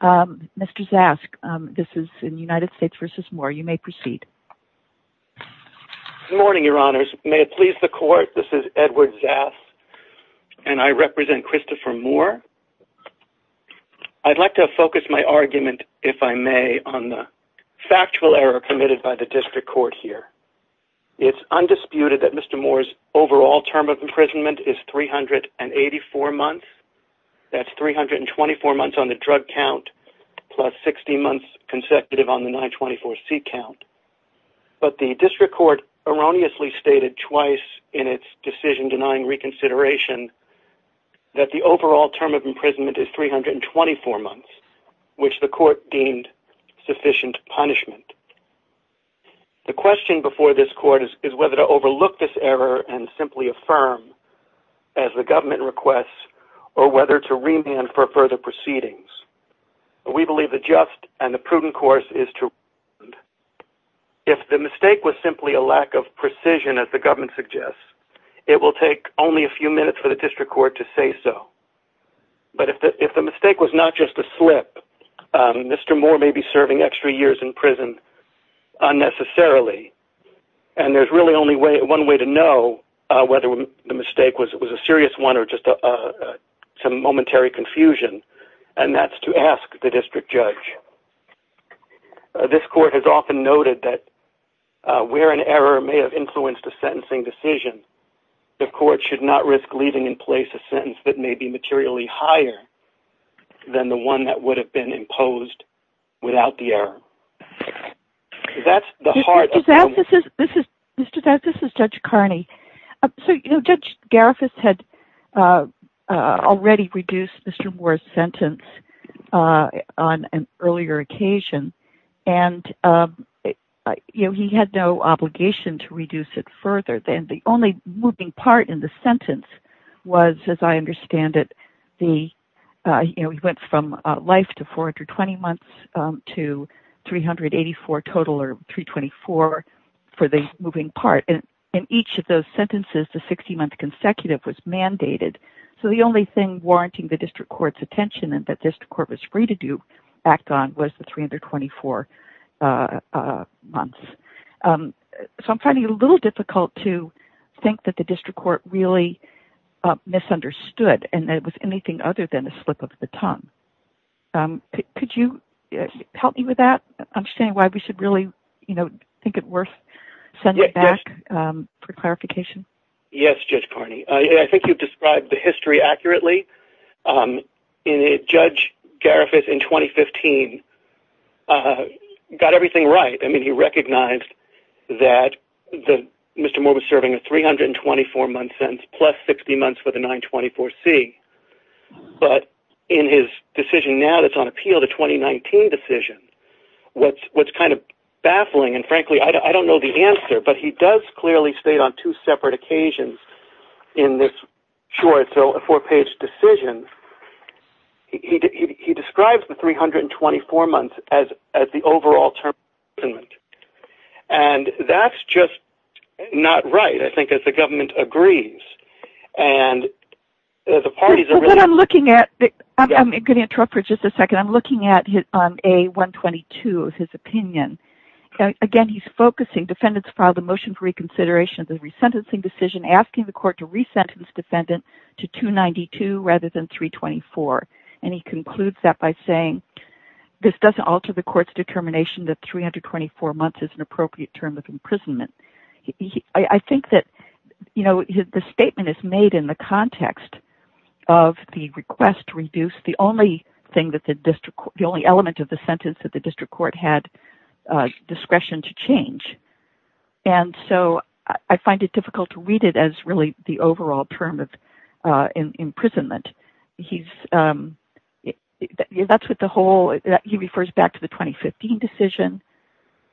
Good morning, Your Honors. May it please the Court, this is Edward Zas, and I represent Christopher Moore. I'd like to focus my argument, if I may, on the factual error committed by the District Court here. It's undisputed that Mr. Moore's overall term of imprisonment is 384 months. That's 324 months on the drug count plus 16 months consecutive on the 924C count. But the District Court erroneously stated twice in its decision-denying reconsideration that the overall term of imprisonment is 324 months, which the Court deemed sufficient punishment. The question before this Court is whether to overlook this error and simply affirm, as the government requests, or whether to remand for further proceedings. We believe the just and the prudent course is to remand. If the mistake was simply a lack of precision, as the government suggests, it will take only a few minutes for the District Court to say so. But if the mistake was not just a slip, Mr. Moore may be serving extra years in prison unnecessarily. And there's really only one way to know whether the mistake was a serious one or just some momentary confusion, and that's to ask the District Judge. This Court has often noted that where an error may have influenced a sentencing decision, the Court should not risk leaving in place a sentence that may be materially higher than the one that would have been imposed without the error. That's the heart of the moment. Mr. Zapp, this is Judge Carney. So, Judge Garifuss had already reduced Mr. Moore's sentence on an earlier occasion, and he had no obligation to reduce it further. The only moving part in the sentence was, as I understand it, he went from life to 420 months to 384 total, or 324 for the moving part. In each of those sentences, the 60-month consecutive was mandated. So the only thing warranting the District Court's attention and that the District Court was free to act on was the 324 months. So I'm finding it a little difficult to think that the District Court really misunderstood, and that it was anything other than a slip of the tongue. Could you help me with that? I'm saying why we should really, you know, think it worth sending it back for clarification. Yes, Judge Carney. I think you've described the history accurately. Judge Garifuss in 2015 got everything right. I mean, he recognized that Mr. Moore was serving a 324-month sentence plus 60 months for the 924C, but in his decision now that's on appeal, the 2019 decision, what's kind of baffling, and frankly I don't know the answer, but he does clearly state on two separate occasions in this short, so a four-page decision, he describes the 324 months as the overall term of imprisonment. And that's just not right, I think, as the government agrees. I'm going to interrupt for just a second. I'm looking at A122 of his opinion. Again, he's focusing defendants filed a motion for reconsideration of the resentencing decision, asking the court to re-sentence defendant to 292 rather than 324, and he concludes that by saying this doesn't alter the court's determination that 324 months is an appropriate term of imprisonment. I think that the statement is made in the context of the request to reduce the only element of the sentence that the district court had discretion to change, and so I find it difficult to read it as really the overall term of imprisonment. He refers back to the 2015 decision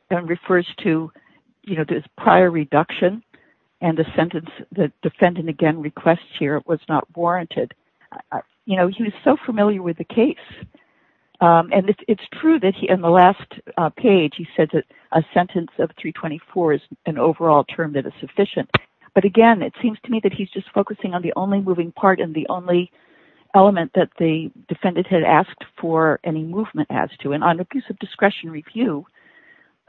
and refers to this prior reduction and the sentence the defendant again requests here was not warranted. He was so familiar with the case, and it's true that in the last page he said that a sentence of 324 is an overall term that is sufficient, but again, it seems to me that he's just focusing on the only moving part and the only element that the defendant had asked for any movement as to. On abuse of discretion review,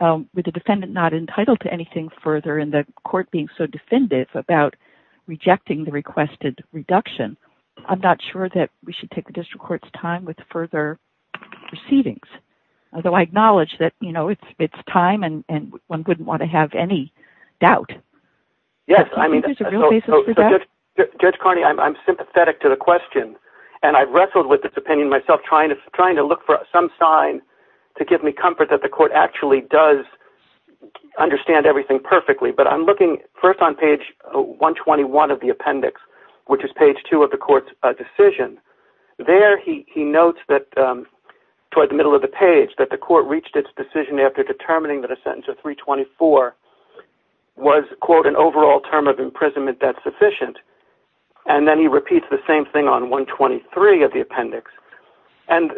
with the defendant not entitled to anything further and the court being so definitive about rejecting the requested reduction, I'm not sure that we should take the district court's time with further proceedings. Although I acknowledge that it's time and one wouldn't want to have any doubt. Yes, I mean, Judge Carney, I'm sympathetic to the question, and I've wrestled with this opinion myself trying to look for some sign to give me comfort that the court actually does understand everything perfectly, but I'm looking first on page 121 of the appendix, which is page 2 of the court's decision. There he notes that toward the middle of the page that the court reached its decision after determining that a sentence of 324 was, quote, an overall term of imprisonment that's sufficient, and then he repeats the same thing on 123 of the appendix. And,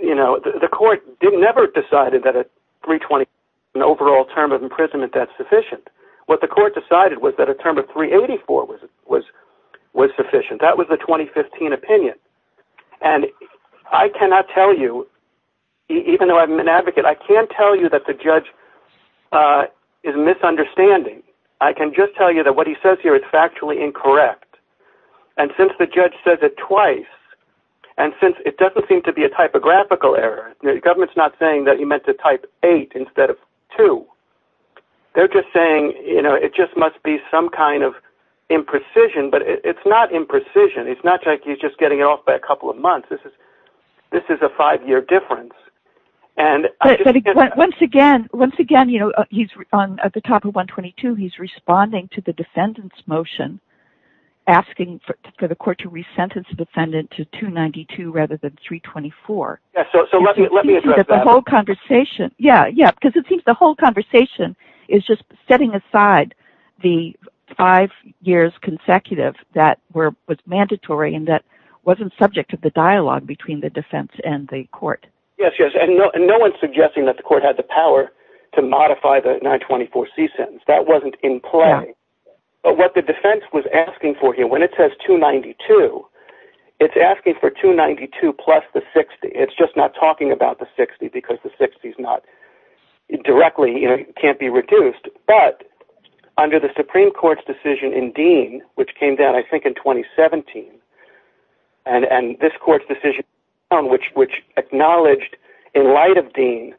you know, the court never decided that a 324 was an overall term of imprisonment that's sufficient. What the court decided was that a term of 384 was sufficient. That was the 2015 opinion, and I cannot tell you, even though I'm an advocate, I can't tell you that the judge is misunderstanding. I can just tell you that what he says here is factually incorrect. And since the judge says it twice, and since it doesn't seem to be a typographical error, the government's not saying that he meant to type 8 instead of 2. They're just saying, you know, it just must be some kind of imprecision, but it's not imprecision. It's not like he's just getting it off by a couple of months. This is a five-year difference. Once again, at the top of 122, he's responding to the defendant's motion, asking for the court to resentence the defendant to 292 rather than 324. So let me address that. Yeah, because it seems the whole conversation is just setting aside the five years consecutive that was mandatory and that wasn't subject to the dialogue between the defense and the court. Yes, yes, and no one's suggesting that the court had the power to modify the 924C sentence. That wasn't in play. But what the defense was asking for here, when it says 292, it's asking for 292 plus the 60. It's just not talking about the 60 because the 60's not directly, you know, can't be reduced. But under the Supreme Court's decision in Dean, which came down I think in 2017, and this court's decision which acknowledged in light of Dean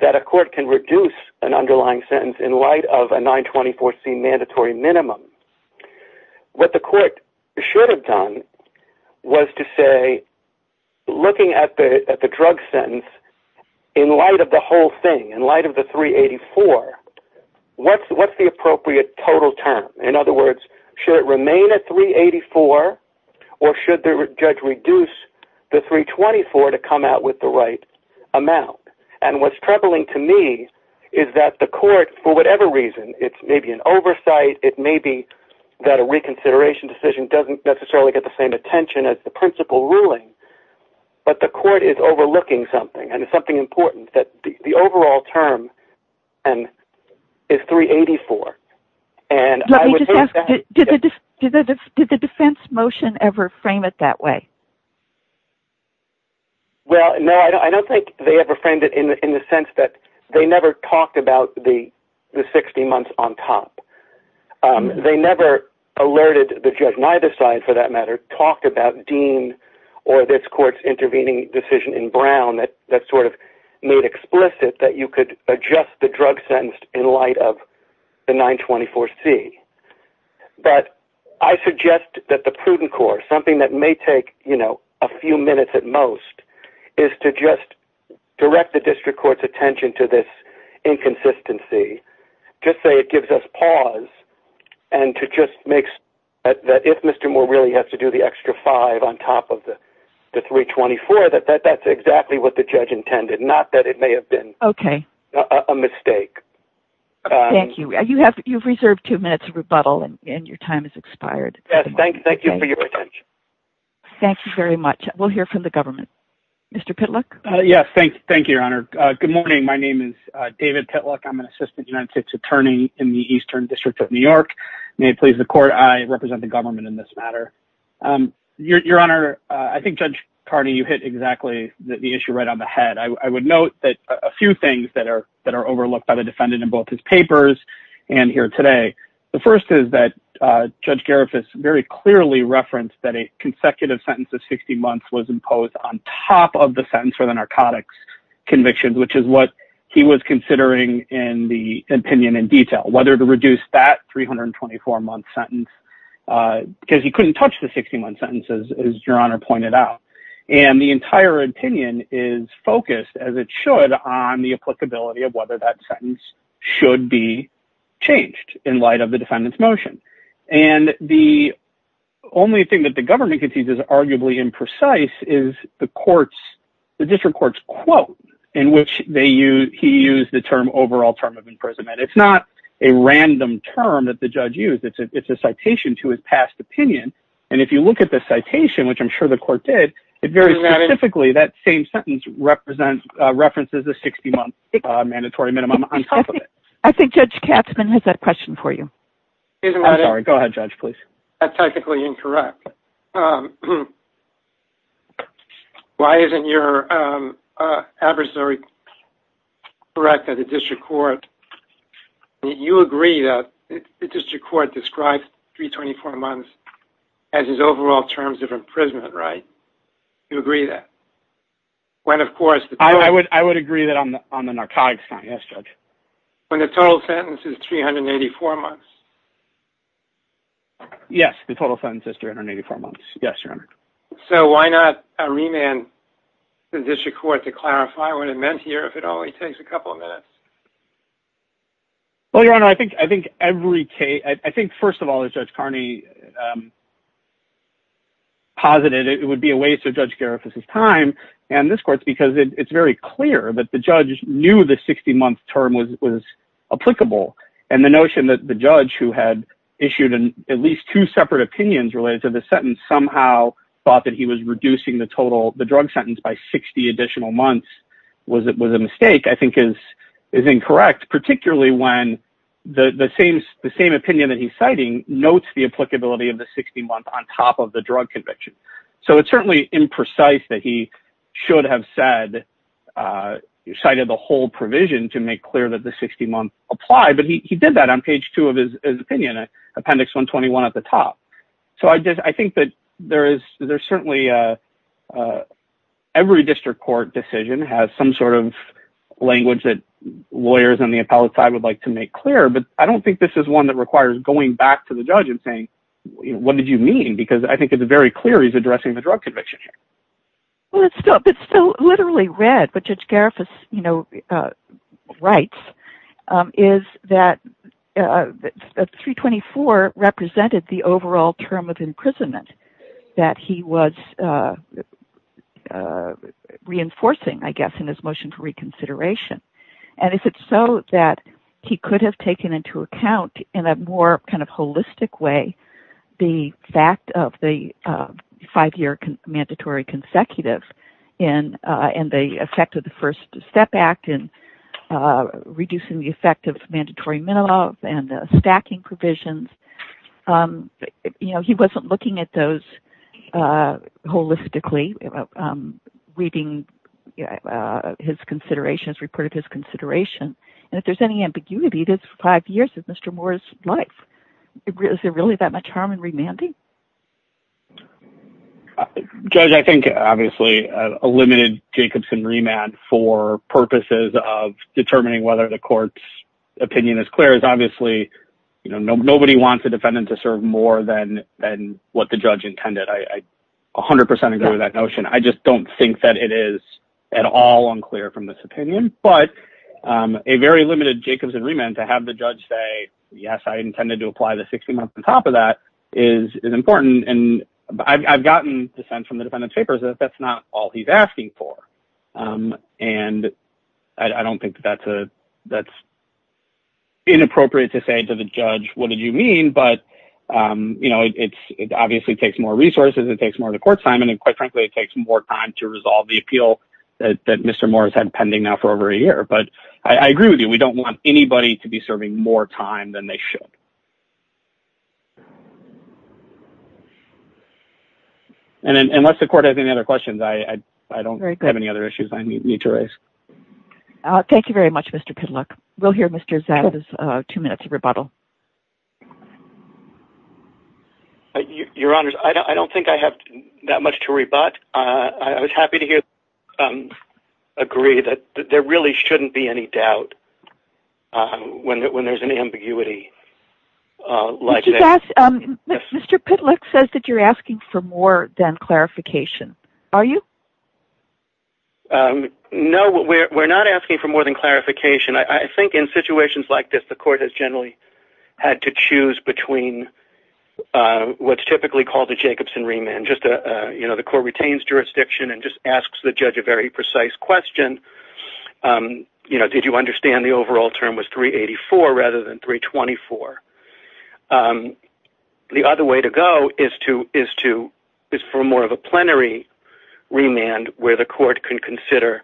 that a court can reduce an underlying sentence in light of a 924C mandatory minimum, what the court should have done was to say, looking at the drug sentence in light of the whole thing, in light of the 384, what's the appropriate total term? In other words, should it remain at 384 or should the judge reduce the 324 to come out with the right amount? And what's troubling to me is that the court, for whatever reason, it's maybe an oversight, it may be that a reconsideration decision doesn't necessarily get the same attention as the principal ruling, but the court is overlooking something and it's something important that the overall term is 384. Let me just ask, did the defense motion ever frame it that way? Well, no, I don't think they ever framed it in the sense that they never talked about the 60 months on top. They never alerted the judge, neither side for that matter, talked about Dean or this court's intervening decision in Brown that sort of made explicit that you could adjust the drug sentence in light of the 924C. But I suggest that the prudent court, something that may take a few minutes at most, is to just direct the district court's attention to this inconsistency, just say it gives us pause and to just make that if Mr. Moore really has to do the extra five on top of the 324, that that's exactly what the judge intended, not that it may have been a mistake. Thank you. You've reserved two minutes of rebuttal and your time has expired. Thank you for your attention. Thank you very much. We'll hear from the government. Mr. Pitluck? Yes, thank you, Your Honor. Good morning. My name is David Pitluck. I'm an assistant United States attorney in the Eastern District of New York. May it please the court, I represent the government in this matter. Your Honor, I think Judge Carney, you hit exactly the issue right on the head. I would note that a few things that are that are overlooked by the defendant in both his papers and here today. The first is that Judge Garifuss very clearly referenced that a consecutive sentence of 60 months was imposed on top of the sentence for the narcotics conviction, which is what he was considering in the opinion in detail, whether to reduce that 324 month sentence, because he couldn't touch the 61 sentences, as Your Honor pointed out. And the entire opinion is focused, as it should, on the applicability of whether that sentence should be changed in light of the defendant's motion. And the only thing that the government can see is arguably imprecise is the courts, the district court's quote, in which they use he used the term overall term of imprisonment. It's not a random term that the judge used. It's a citation to his past opinion. And if you look at the citation, which I'm sure the court did, it very specifically that same sentence represents references the 60 month mandatory minimum on top of it. I think Judge Katzmann has that question for you. I'm sorry. Go ahead, Judge, please. That's technically incorrect. Why isn't your adversary correct at the district court? You agree that the district court described 324 months as his overall terms of imprisonment, right? You agree that when, of course, I would I would agree that I'm on the narcotics. Yes, Judge. When the total sentence is 384 months. Yes, the total sentence is 384 months. Yes. So why not remand the district court to clarify what it meant here if it only takes a couple of minutes? Well, your honor, I think I think every case, I think, first of all, is Judge Carney. Posited it would be a waste of Judge Garifuz's time and this court's because it's very clear that the judge knew the 60 month term was was applicable. And the notion that the judge who had issued at least two separate opinions related to the sentence somehow thought that he was reducing the total. The drug sentence by 60 additional months was it was a mistake, I think, is is incorrect, particularly when the same the same opinion that he's citing notes, the applicability of the 60 month on top of the drug conviction. So it's certainly imprecise that he should have said cited the whole provision to make clear that the 60 month apply. But he did that on page two of his opinion. Appendix 121 at the top. So I just I think that there is there's certainly every district court decision has some sort of language that lawyers on the appellate side would like to make clear. But I don't think this is one that requires going back to the judge and saying, what did you mean? Because I think it's very clear he's addressing the drug conviction. Well, it's still it's still literally read, but Judge Garifuz writes is that 324 represented the overall term of imprisonment that he was reinforcing, I guess, in his motion for reconsideration. And if it's so that he could have taken into account in a more kind of holistic way, the fact of the five year mandatory consecutive in and the effect of the First Step Act in reducing the effect of mandatory minimum and stacking provisions. You know, he wasn't looking at those holistically reading his considerations, reported his consideration. And if there's any ambiguity, this five years of Mr. Moore's life, is there really that much harm in remanding? Judge, I think, obviously, a limited Jacobson remand for purposes of determining whether the court's opinion is clear is obviously nobody wants a defendant to serve more than than what the judge intended. I 100 percent agree with that notion. I just don't think that it is at all unclear from this opinion. But a very limited Jacobson remand to have the judge say, yes, I intended to apply the 60 months on top of that is important. And I've gotten dissent from the defendant's papers that that's not all he's asking for. And I don't think that's a that's. Inappropriate to say to the judge, what did you mean? But, you know, it's obviously takes more resources. It takes more of the court time. And quite frankly, it takes more time to resolve the appeal that Mr. Morris had pending now for over a year. But I agree with you. We don't want anybody to be serving more time than they should. And unless the court has any other questions, I don't have any other issues I need to raise. Thank you very much, Mr. Cadillac. We'll hear Mr. Zed two minutes of rebuttal. Your Honor, I don't think I have that much to rebut. But I was happy to hear. Agree that there really shouldn't be any doubt when there's an ambiguity. Mr. Cadillac says that you're asking for more than clarification. Are you? No, we're not asking for more than clarification. I think in situations like this, the court has generally had to choose between what's typically called the Jacobson remand. You know, the court retains jurisdiction and just asks the judge a very precise question. You know, did you understand the overall term was 384 rather than 324? The other way to go is for more of a plenary remand where the court can consider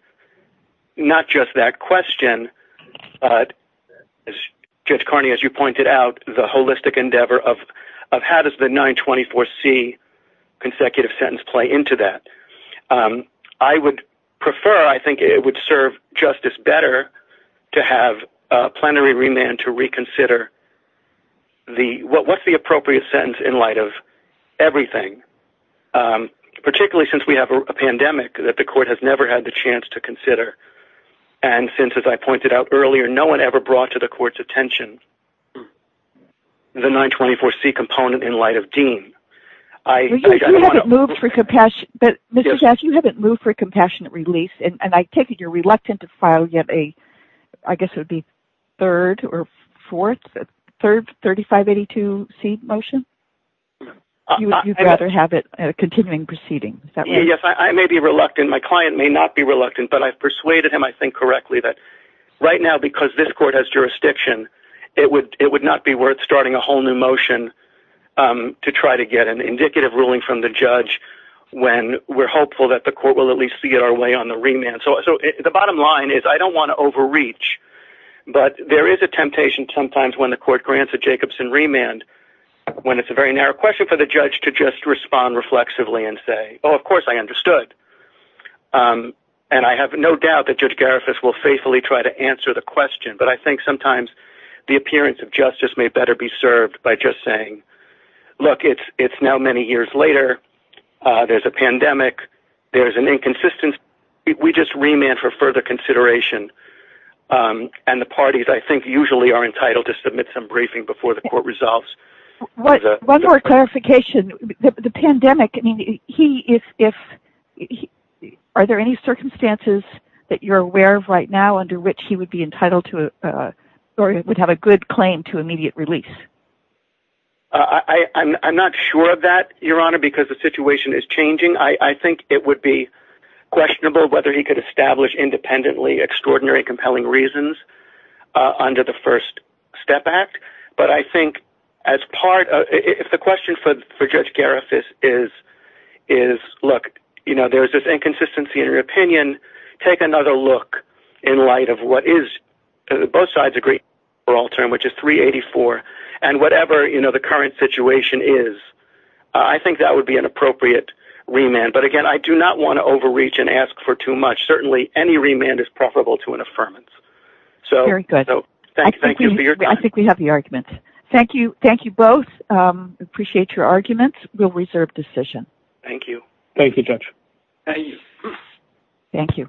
not just that question, but Judge Carney, as you pointed out, the holistic endeavor of how does the 924C consecutive sentence play into that? I would prefer, I think it would serve justice better to have a plenary remand to reconsider what's the appropriate sentence in light of everything. Particularly since we have a pandemic that the court has never had the chance to consider. And since, as I pointed out earlier, no one ever brought to the court's attention the 924C component in light of Dean. You haven't moved for compassionate release, and I take it you're reluctant to file yet a, I guess it would be third or fourth, third 3582C motion? You'd rather have it continuing proceeding. Yes, I may be reluctant. My client may not be reluctant, but I've persuaded him, I think, correctly that right now, because this court has jurisdiction, it would not be worth starting a whole new motion to try to get an indicative ruling from the judge when we're hopeful that the court will at least see our way on the remand. So the bottom line is I don't want to overreach, but there is a temptation sometimes when the court grants a Jacobson remand, when it's a very narrow question for the judge to just respond reflexively and say, oh, of course I understood. And I have no doubt that Judge Garifas will faithfully try to answer the question. But I think sometimes the appearance of justice may better be served by just saying, look, it's now many years later. There's a pandemic. There's an inconsistency. We just remand for further consideration. And the parties, I think, usually are entitled to submit some briefing before the court resolves. One more clarification. The pandemic, I mean, are there any circumstances that you're aware of right now under which he would be entitled to or would have a good claim to immediate release? I'm not sure of that, Your Honor, because the situation is changing. I think it would be questionable whether he could establish independently extraordinary, compelling reasons under the First Step Act. But I think if the question for Judge Garifas is, look, there's this inconsistency in your opinion. Take another look in light of what is – both sides agree for all term, which is 384. And whatever the current situation is, I think that would be an appropriate remand. But again, I do not want to overreach and ask for too much. Certainly, any remand is preferable to an affirmance. Very good. I think we have the argument. Thank you both. Appreciate your arguments. We'll reserve decision. Thank you, Judge. Thank you. Thank you.